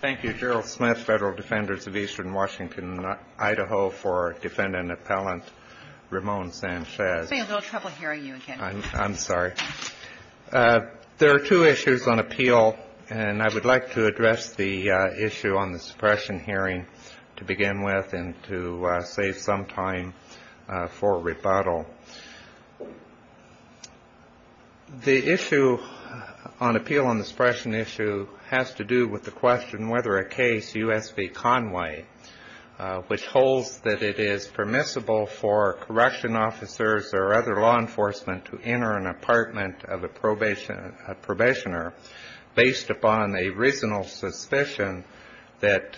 There are two issues on appeal, and I would like to address the issue on the suppression hearing to begin with and to save some time for rebuttal. The issue on appeal and suppression issue has to do with the question whether a case, U.S. v. Conway, which holds that it is permissible for corruption officers or other law enforcement to enter an apartment of a probationer based upon a reasonable suspicion that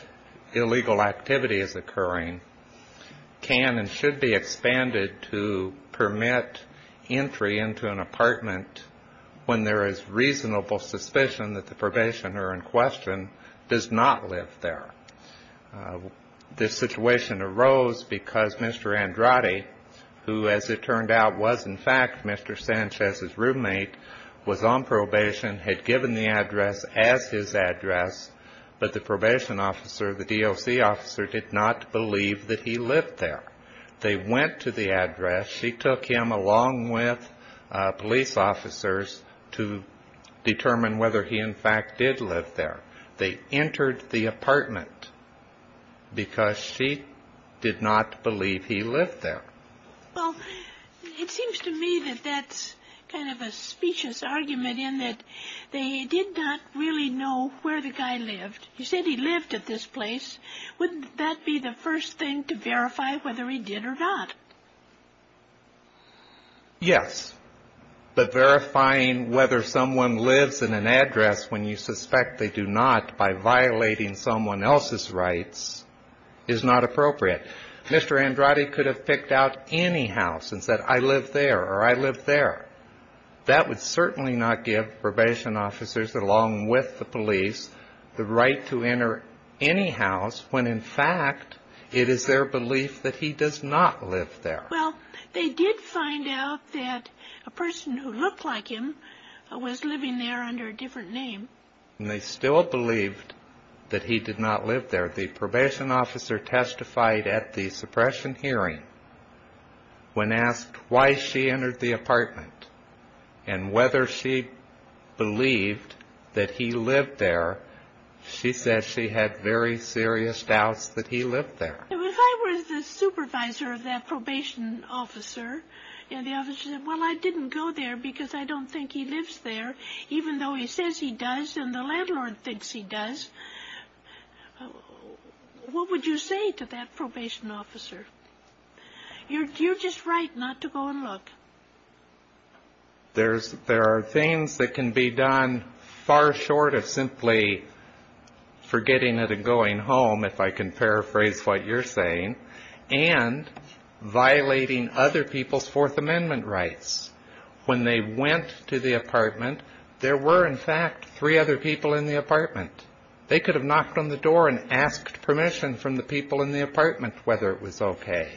illegal activity is occurring, can and should be expanded to a case of U.S. v. Conway. This situation arose because Mr. Andrade, who as it turned out was in fact Mr. Sanchez's roommate, was on probation, had given the address as his address, but the probation officer, the DOC officer, did not believe that he lived there. They went to the address. She took him along with police officers to determine whether he in fact did live there. They entered the apartment because she did not believe he lived there. Well, it seems to me that that's kind of a specious argument in that they did not really know where the guy lived. He said he lived at this place. Wouldn't that be the first thing to verify whether he did or not? Yes. But verifying whether someone lives in an address when you suspect they do not by violating someone else's rights is not appropriate. Mr. Andrade could have picked out any house and said I live there or I live there. That would certainly not give probation officers along with the police the right to enter any house when in fact it is their belief that he does not live there. Well, they did find out that a person who looked like him was living there under a different name. And they still believed that he did not live there. The probation officer testified at the suppression hearing when asked why she entered the apartment and whether she believed that he lived there. She said she had very serious doubts that he lived there. If I were the supervisor of that probation officer and the officer said, well, I didn't go there because I don't think he lives there even though he says he does and the landlord thinks he does, what would you say to that probation officer? You're just right not to go and look. There are things that can be done far short of simply forgetting it and going home, if I can paraphrase what you're saying, and violating other people's Fourth Amendment rights. When they went to the apartment, there were in fact three other people in the apartment. They could have knocked on the door and asked permission from the people in the apartment whether it was okay.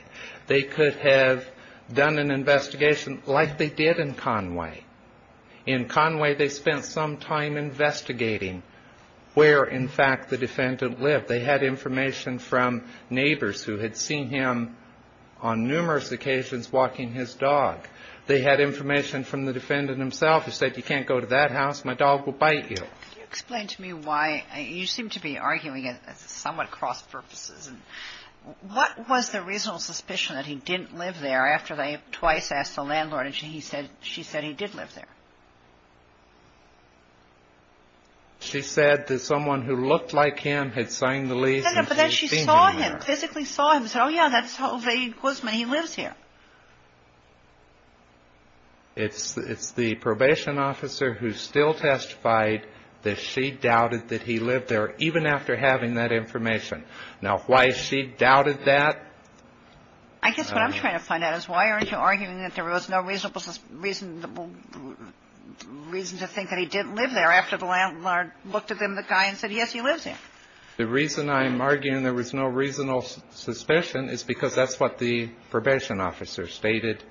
They could have done an investigation like they did in Conway. In Conway, they spent some time investigating where in fact the defendant lived. They had information from neighbors who had seen him on numerous occasions walking his dog. They had information from the defendant himself who said you can't go to that house, my dog will bite you. Can you explain to me why, you seem to be arguing it somewhat cross purposes, what was the reasonable suspicion that he didn't live there after they twice asked the landlord and she said he did live there? She said that someone who looked like him had signed the lease. No, no, but then she saw him, physically saw him and said, oh yeah, that's Ove Guzman, he lives here. It's the probation officer who still testified that she doubted that he lived there even after having that information. Now, why she doubted that? I guess what I'm trying to find out is why aren't you arguing that there was no reasonable reason to think that he didn't live there after the landlord looked at him, the guy, and said, yes, he lives here? The reason I'm arguing there was no reasonable suspicion is because that's what the probation officer stated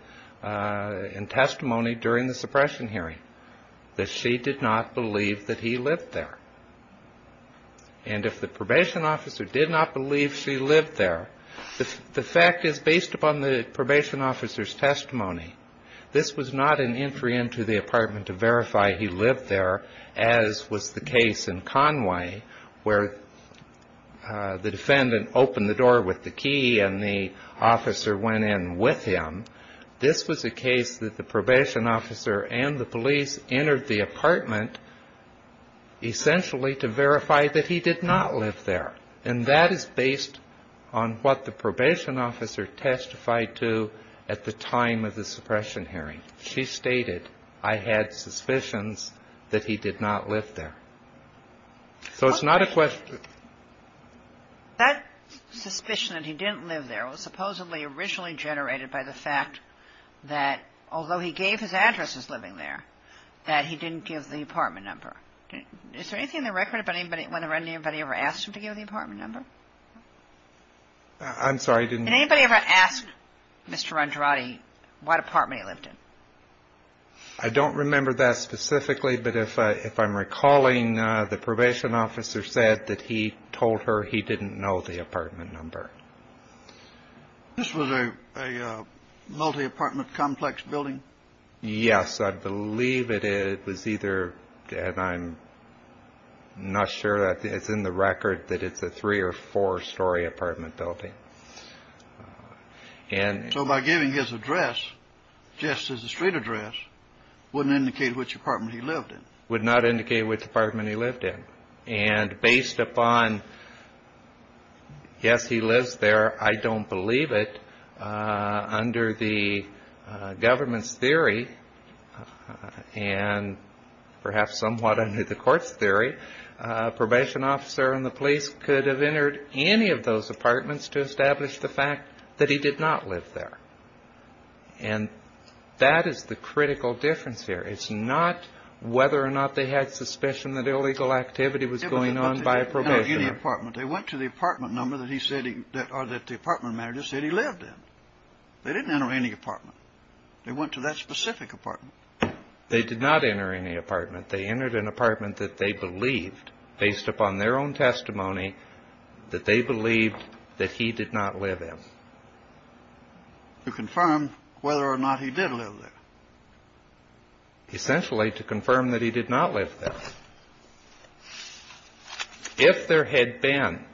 in testimony during the suppression hearing, that she did not believe that he lived there. And if the probation officer did not believe she lived there, the fact is based upon the probation officer's testimony. This was not an entry into the apartment to verify he lived there, as was the case in Conway, where the defendant opened the door with the key and the officer went in with him. This was a case that the probation officer and the police entered the apartment essentially to verify that he did not live there. And that is based on what the probation officer testified to at the time of the suppression hearing. She stated, I had suspicions that he did not live there. So it's not a question. That suspicion that he didn't live there was supposedly originally generated by the fact that although he gave his address as living there, that he didn't give the apartment number. Is there anything in the record about anybody, whenever anybody ever asked him to give the apartment number? I'm sorry. Did anybody ever ask Mr. Andrade what apartment he lived in? I don't remember that specifically, but if I'm recalling, the probation officer said that he told her he didn't know the apartment number. This was a multi apartment complex building. Yes, I believe it was either. And I'm not sure that it's in the record that it's a three or four story apartment building. And so by giving his address just as a street address wouldn't indicate which apartment he lived in, would not indicate which apartment he lived in. And based upon. Yes, he lives there. I don't believe it. Under the government's theory and perhaps somewhat under the court's theory, probation officer and the police could have entered any of those apartments to establish the fact that he did not live there. And that is the critical difference here. It's not whether or not they had suspicion that illegal activity was going on by a probationer. They didn't enter any apartment. They went to the apartment number that he said or that the apartment manager said he lived in. They didn't enter any apartment. They went to that specific apartment. They did not enter any apartment. They entered an apartment that they believed, based upon their own testimony, that they believed that he did not live in. To confirm whether or not he did live there. Essentially to confirm that he did not live there. If there had been.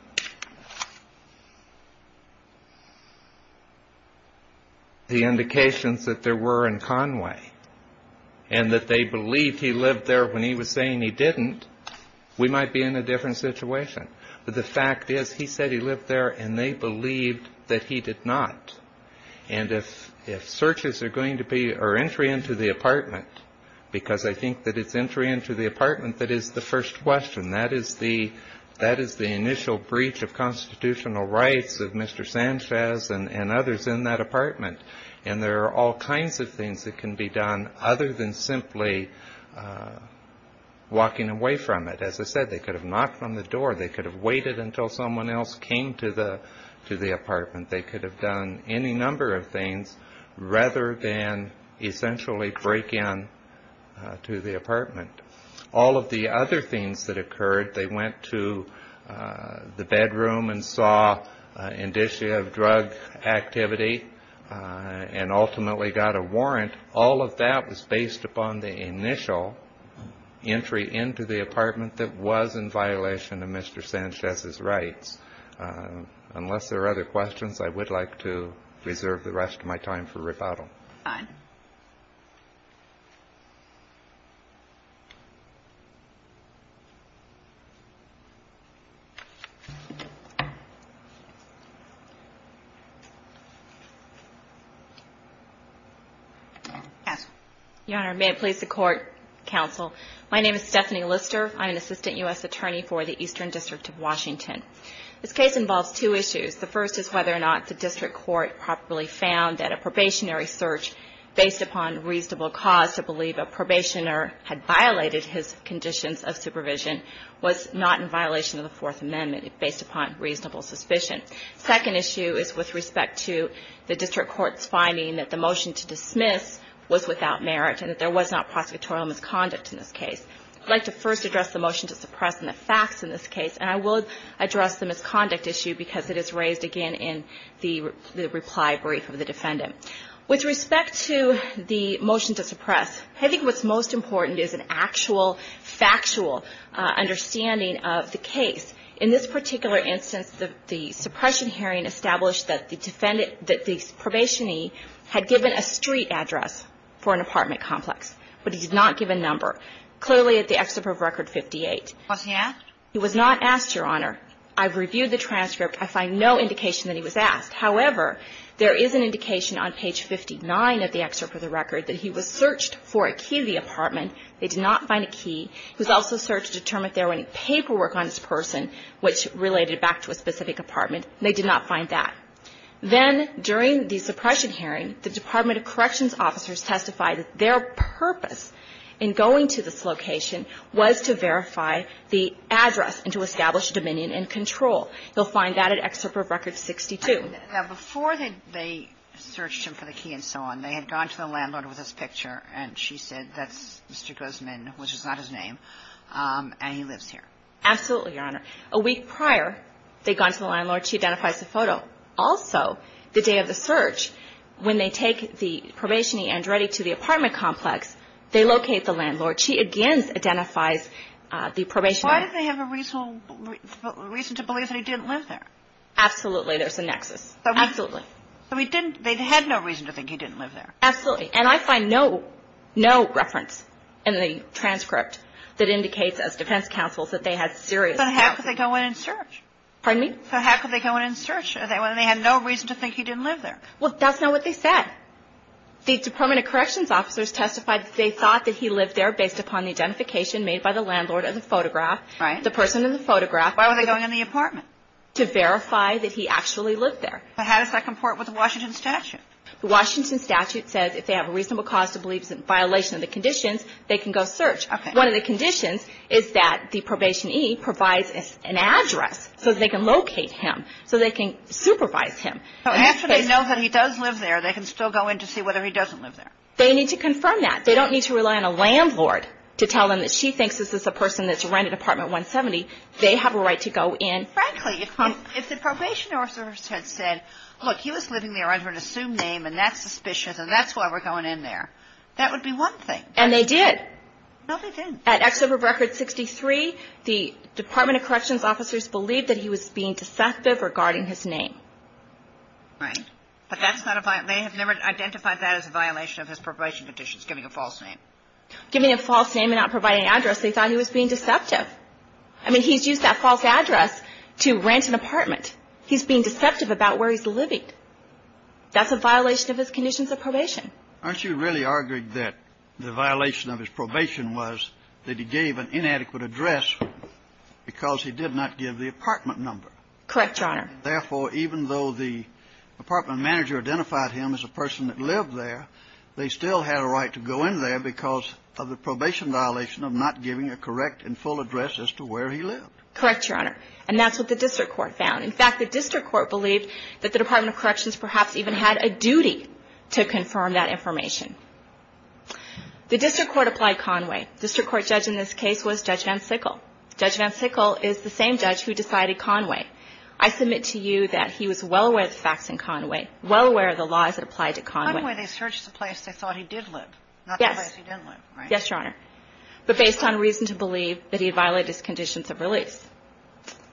The indications that there were in Conway. And that they believed he lived there when he was saying he didn't. We might be in a different situation. But the fact is, he said he lived there and they believed that he did not. And if searches are going to be or entry into the apartment. Because I think that it's entry into the apartment that is the first question. That is the initial breach of constitutional rights of Mr. Sanchez and others in that apartment. And there are all kinds of things that can be done other than simply walking away from it. As I said, they could have knocked on the door. They could have waited until someone else came to the apartment. They could have done any number of things rather than essentially break in to the apartment. All of the other things that occurred. They went to the bedroom and saw indicia of drug activity. And ultimately got a warrant. All of that was based upon the initial entry into the apartment that was in violation of Mr. Sanchez's rights. Unless there are other questions, I would like to reserve the rest of my time for rebuttal. Fine. Your Honor, may it please the court, counsel. My name is Stephanie Lister. I'm an assistant U.S. attorney for the Eastern District of Washington. This case involves two issues. The first is whether or not the district court properly found that a probationary search based upon reasonable cause to believe a probationer had violated his conditions of supervision was not in violation of the Fourth Amendment based upon reasonable suspicion. Second issue is with respect to the district court's finding that the motion to dismiss was without merit and that there was not prosecutorial misconduct in this case. I'd like to first address the motion to suppress and the facts in this case. And I will address the misconduct issue because it is raised again in the reply brief of the defendant. With respect to the motion to suppress, I think what's most important is an actual, factual understanding of the case. In this particular instance, the suppression hearing established that the defendant that the probationee had given a street address for an apartment complex, but he did not give a number. Clearly at the excerpt of Record 58. He was not asked, Your Honor. I've reviewed the transcript. I find no indication that he was asked. However, there is an indication on page 59 of the excerpt of the record that he was searched for a key to the apartment. They did not find a key. He was also searched to determine if there were any paperwork on this person which related back to a specific apartment. They did not find that. Then during the suppression hearing, the Department of Corrections officers testified that their purpose in going to this location was to verify the address and to establish dominion and control. You'll find that at excerpt of Record 62. Now, before they searched him for the key and so on, they had gone to the landlord with this picture, and she said that's Mr. Guzman, which is not his name, and he lives here. Absolutely, Your Honor. A week prior, they had gone to the landlord. She identifies the photo. Also, the day of the search, when they take the probationee and ready to the apartment complex, they locate the landlord. She again identifies the probationer. Why did they have a reason to believe that he didn't live there? Absolutely. There's a nexus. Absolutely. So they had no reason to think he didn't live there? Absolutely. And I find no reference in the transcript that indicates, as defense counsels, that they had serious doubts. But how could they go in and search? Pardon me? So how could they go in and search? They had no reason to think he didn't live there. Well, that's not what they said. The Department of Corrections officers testified that they thought that he lived there based upon the identification made by the landlord of the photograph. Right. The person in the photograph. Why were they going in the apartment? To verify that he actually lived there. But how does that comport with the Washington statute? The Washington statute says if they have a reasonable cause to believe it's in violation of the conditions, they can go search. Okay. One of the conditions is that the probationee provides an address so they can locate him, so they can supervise him. So after they know that he does live there, they can still go in to see whether he doesn't live there. They need to confirm that. They don't need to rely on a landlord to tell them that she thinks this is a person that's rented apartment 170. They have a right to go in. Frankly, if the probation officer had said, look, he was living there under an assumed name, and that's suspicious, and that's why we're going in there, that would be one thing. And they did. No, they didn't. At Exhibit Record 63, the Department of Corrections officers believed that he was being deceptive regarding his name. Right. But that's not a violation. They have never identified that as a violation of his probation conditions, giving a false name. Giving a false name and not providing an address, they thought he was being deceptive. I mean, he's used that false address to rent an apartment. He's being deceptive about where he's living. That's a violation of his conditions of probation. Aren't you really arguing that the violation of his probation was that he gave an inadequate address because he did not give the apartment number? Correct, Your Honor. Therefore, even though the apartment manager identified him as a person that lived there, they still had a right to go in there because of the probation violation of not giving a correct and full address as to where he lived. Correct, Your Honor. And that's what the district court found. In fact, the district court believed that the Department of Corrections perhaps even had a duty to confirm that information. The district court applied Conway. The district court judge in this case was Judge Van Sickle. Judge Van Sickle is the same judge who decided Conway. I submit to you that he was well aware of the facts in Conway, well aware of the laws that applied to Conway. Conway, they searched the place they thought he did live, not the place he didn't live, right? Yes, Your Honor. But based on reason to believe that he violated his conditions of release.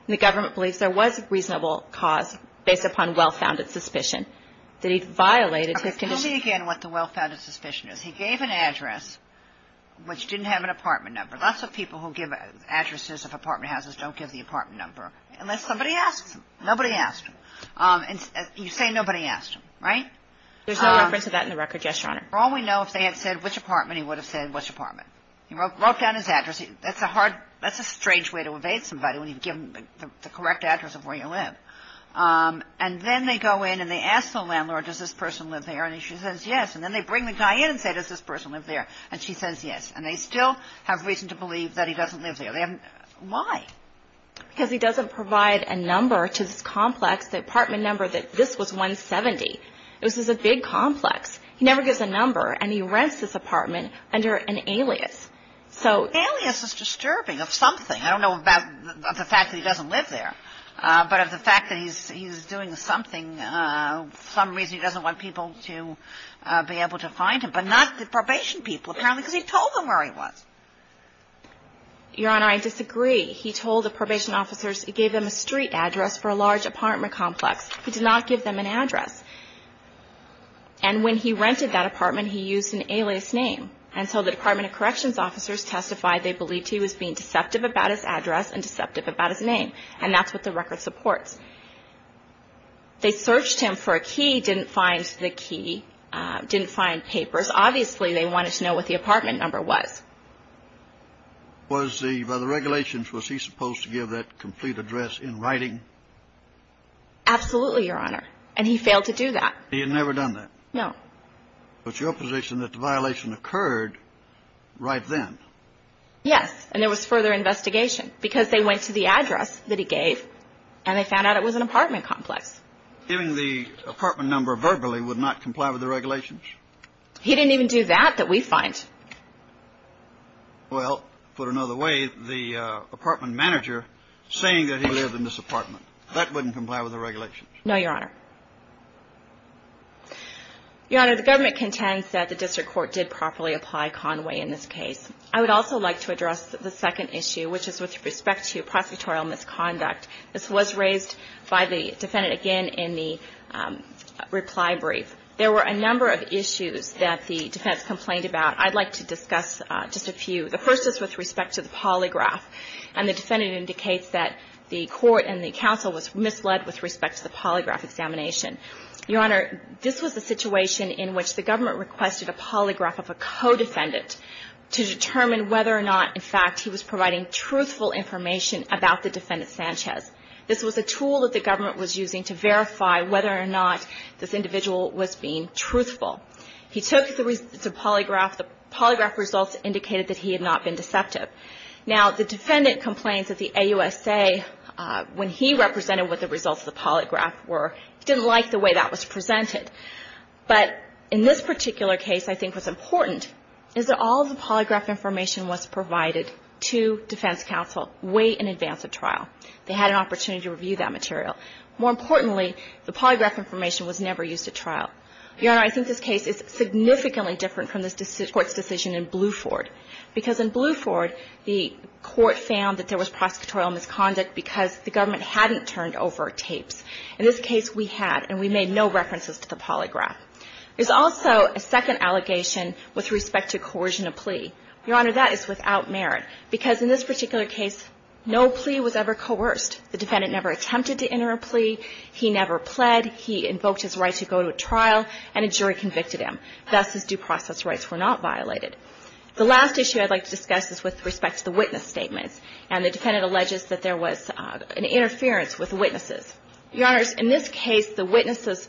The government believes there was a reasonable cause based upon well-founded suspicion that he violated his conditions. Tell me again what the well-founded suspicion is. He gave an address which didn't have an apartment number. Lots of people who give addresses of apartment houses don't give the apartment number unless somebody asks them. Nobody asked him. And you say nobody asked him, right? There's no reference to that in the record, yes, Your Honor. For all we know, if they had said which apartment, he would have said which apartment. He wrote down his address. That's a strange way to evade somebody when you've given them the correct address of where you live. And then they go in and they ask the landlord, does this person live there? And she says yes. And then they bring the guy in and say, does this person live there? And she says yes. And they still have reason to believe that he doesn't live there. Why? Because he doesn't provide a number to this complex, the apartment number, that this was 170. This is a big complex. He never gives a number. And he rents this apartment under an alias. Alias is disturbing of something. I don't know about the fact that he doesn't live there, but of the fact that he's doing something, for some reason he doesn't want people to be able to find him. But not the probation people, apparently, because he told them where he was. Your Honor, I disagree. He told the probation officers, he gave them a street address for a large apartment complex. He did not give them an address. And when he rented that apartment, he used an alias name. And so the Department of Corrections officers testified they believed he was being deceptive about his address and deceptive about his name. And that's what the record supports. They searched him for a key, didn't find the key, didn't find papers. Obviously, they wanted to know what the apartment number was. By the regulations, was he supposed to give that complete address in writing? Absolutely, Your Honor. And he failed to do that. He had never done that? No. But your position is that the violation occurred right then? Yes. And there was further investigation because they went to the address that he gave, and they found out it was an apartment complex. Giving the apartment number verbally would not comply with the regulations? He didn't even do that that we find. Well, put another way, the apartment manager saying that he lived in this apartment, that wouldn't comply with the regulations? No, Your Honor. Your Honor, the government contends that the district court did properly apply Conway in this case. I would also like to address the second issue, which is with respect to prosecutorial misconduct. This was raised by the defendant again in the reply brief. There were a number of issues that the defense complained about. I'd like to discuss just a few. The first is with respect to the polygraph, and the defendant indicates that the court and the counsel was misled with respect to the polygraph example. The second issue is with respect to the defendant's testimony. Your Honor, this was a situation in which the government requested a polygraph of a co-defendant to determine whether or not, in fact, he was providing truthful information about the defendant, Sanchez. This was a tool that the government was using to verify whether or not this individual was being truthful. He took the polygraph. The polygraph results indicated that he had not been deceptive. Now, the defendant complains that the AUSA, when he represented what the results of the polygraph were, didn't like the way that was presented. But in this particular case, I think what's important is that all the polygraph information was provided to defense counsel way in advance of trial. They had an opportunity to review that material. More importantly, the polygraph information was never used at trial. Your Honor, I think this case is significantly different from this court's decision in Bluford because in Bluford, the court found that there was prosecutorial misconduct because the government hadn't turned over tapes. In this case, we had, and we made no references to the polygraph. There's also a second allegation with respect to coercion of plea. Your Honor, that is without merit because in this particular case, no plea was ever coerced. The defendant never attempted to enter a plea. He never pled. He invoked his right to go to a trial, and a jury convicted him. Thus, his due process rights were not violated. The last issue I'd like to discuss is with respect to the witness statements. And the defendant alleges that there was an interference with witnesses. Your Honors, in this case, the witnesses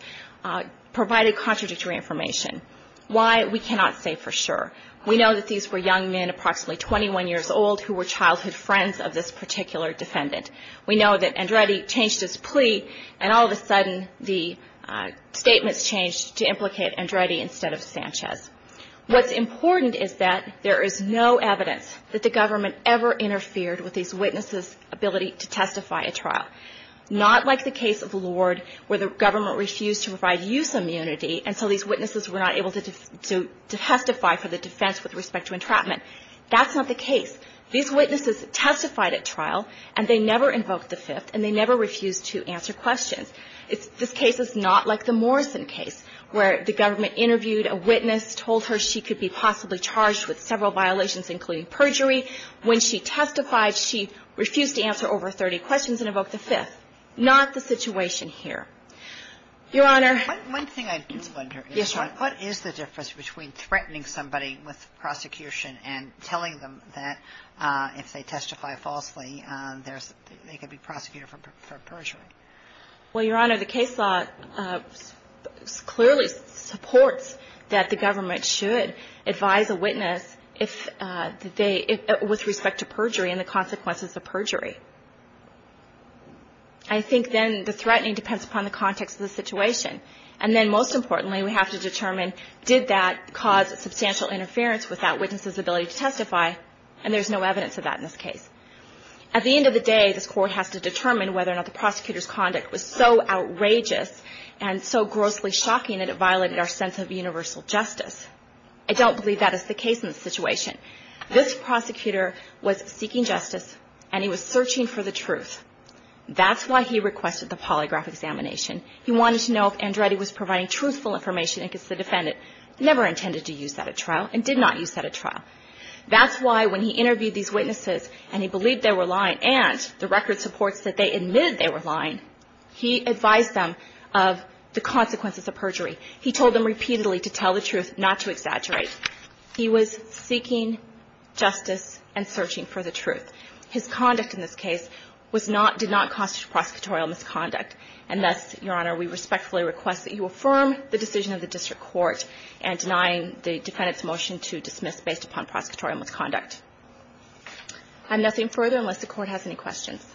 provided contradictory information. Why, we cannot say for sure. We know that these were young men, approximately 21 years old, who were childhood friends of this particular defendant. We know that Andretti changed his plea, and all of a sudden, the statements changed to implicate Andretti instead of Sanchez. What's important is that there is no evidence that the government ever interfered with these witnesses' ability to testify at trial. Not like the case of Lord, where the government refused to provide use immunity until these witnesses were not able to testify for the defense with respect to entrapment. That's not the case. These witnesses testified at trial, and they never invoked the Fifth, and they never refused to answer questions. This case is not like the Morrison case, where the government interviewed a witness, told her she could be possibly charged with several violations, including perjury. When she testified, she refused to answer over 30 questions and invoked the Fifth. Not the situation here. Your Honor. One thing I did wonder is what is the difference between threatening somebody with prosecution and telling them that if they testify falsely, they could be prosecuted for perjury? Well, Your Honor, the case law clearly supports that the government should advise a witness if they – with respect to perjury and the consequences of perjury. I think then the threatening depends upon the context of the situation. And then most importantly, we have to determine did that cause substantial interference with that witness' ability to testify, and there's no evidence of that in this case. At the end of the day, this Court has to determine whether or not the prosecutor's conduct was so outrageous and so grossly shocking that it violated our sense of universal justice. I don't believe that is the case in this situation. This prosecutor was seeking justice, and he was searching for the truth. That's why he requested the polygraph examination. He wanted to know if Andretti was providing truthful information against the defendant. That's why when he interviewed these witnesses and he believed they were lying and the record supports that they admitted they were lying, he advised them of the consequences of perjury. He told them repeatedly to tell the truth, not to exaggerate. He was seeking justice and searching for the truth. His conduct in this case was not – did not constitute prosecutorial misconduct. And thus, Your Honor, we respectfully request that you affirm the decision of the prosecution on prosecutorial misconduct. I have nothing further unless the Court has any questions.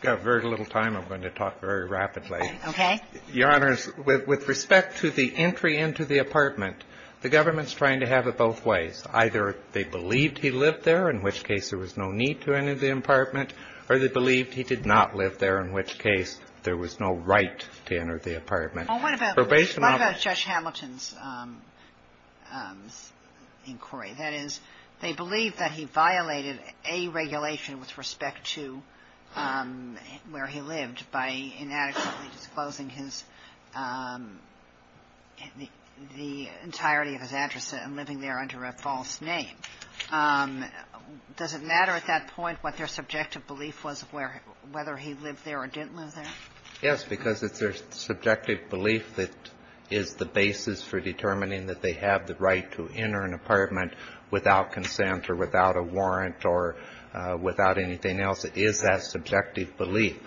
I've got very little time. I'm going to talk very rapidly. Okay. Your Honors, with respect to the entry into the apartment, the government's trying to have it both ways. Either they believed he lived there, in which case there was no need to enter the apartment, or they believed he did not live there, in which case there was no right to enter the apartment. Well, what about Judge Hamilton's inquiry? That is, they believe that he violated a regulation with respect to where he lived by inadequately disclosing his – the entirety of his address and living there under a false name. Does it matter at that point what their subjective belief was of where – whether he lived there or didn't live there? Yes, because it's their subjective belief that is the basis for determining that they have the right to enter an apartment without consent or without a warrant or without anything else. It is that subjective belief.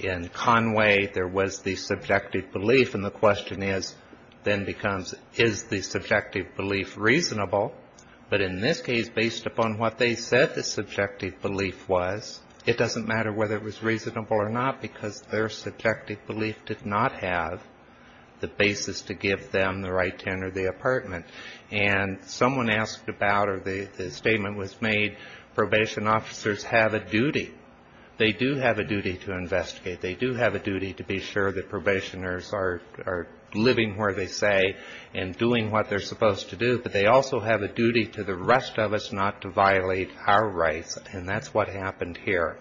In Conway, there was the subjective belief. And the question is – then becomes, is the subjective belief reasonable? But in this case, based upon what they said the subjective belief was, it doesn't matter whether it was reasonable or not, because their subjective belief did not have the basis to give them the right to enter the apartment. And someone asked about, or the statement was made, probation officers have a duty. They do have a duty to investigate. They do have a duty to be sure that probationers are living where they say and doing what they're supposed to do. But they also have a duty to the rest of us not to violate our rights, and that's what happened here.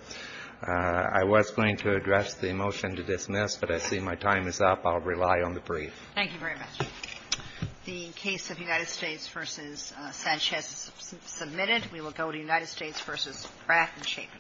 I was going to address the motion to dismiss, but I see my time is up. I'll rely on the brief. Thank you very much. The case of United States v. Sanchez is submitted. We will go to United States v. Pratt and Chaffin.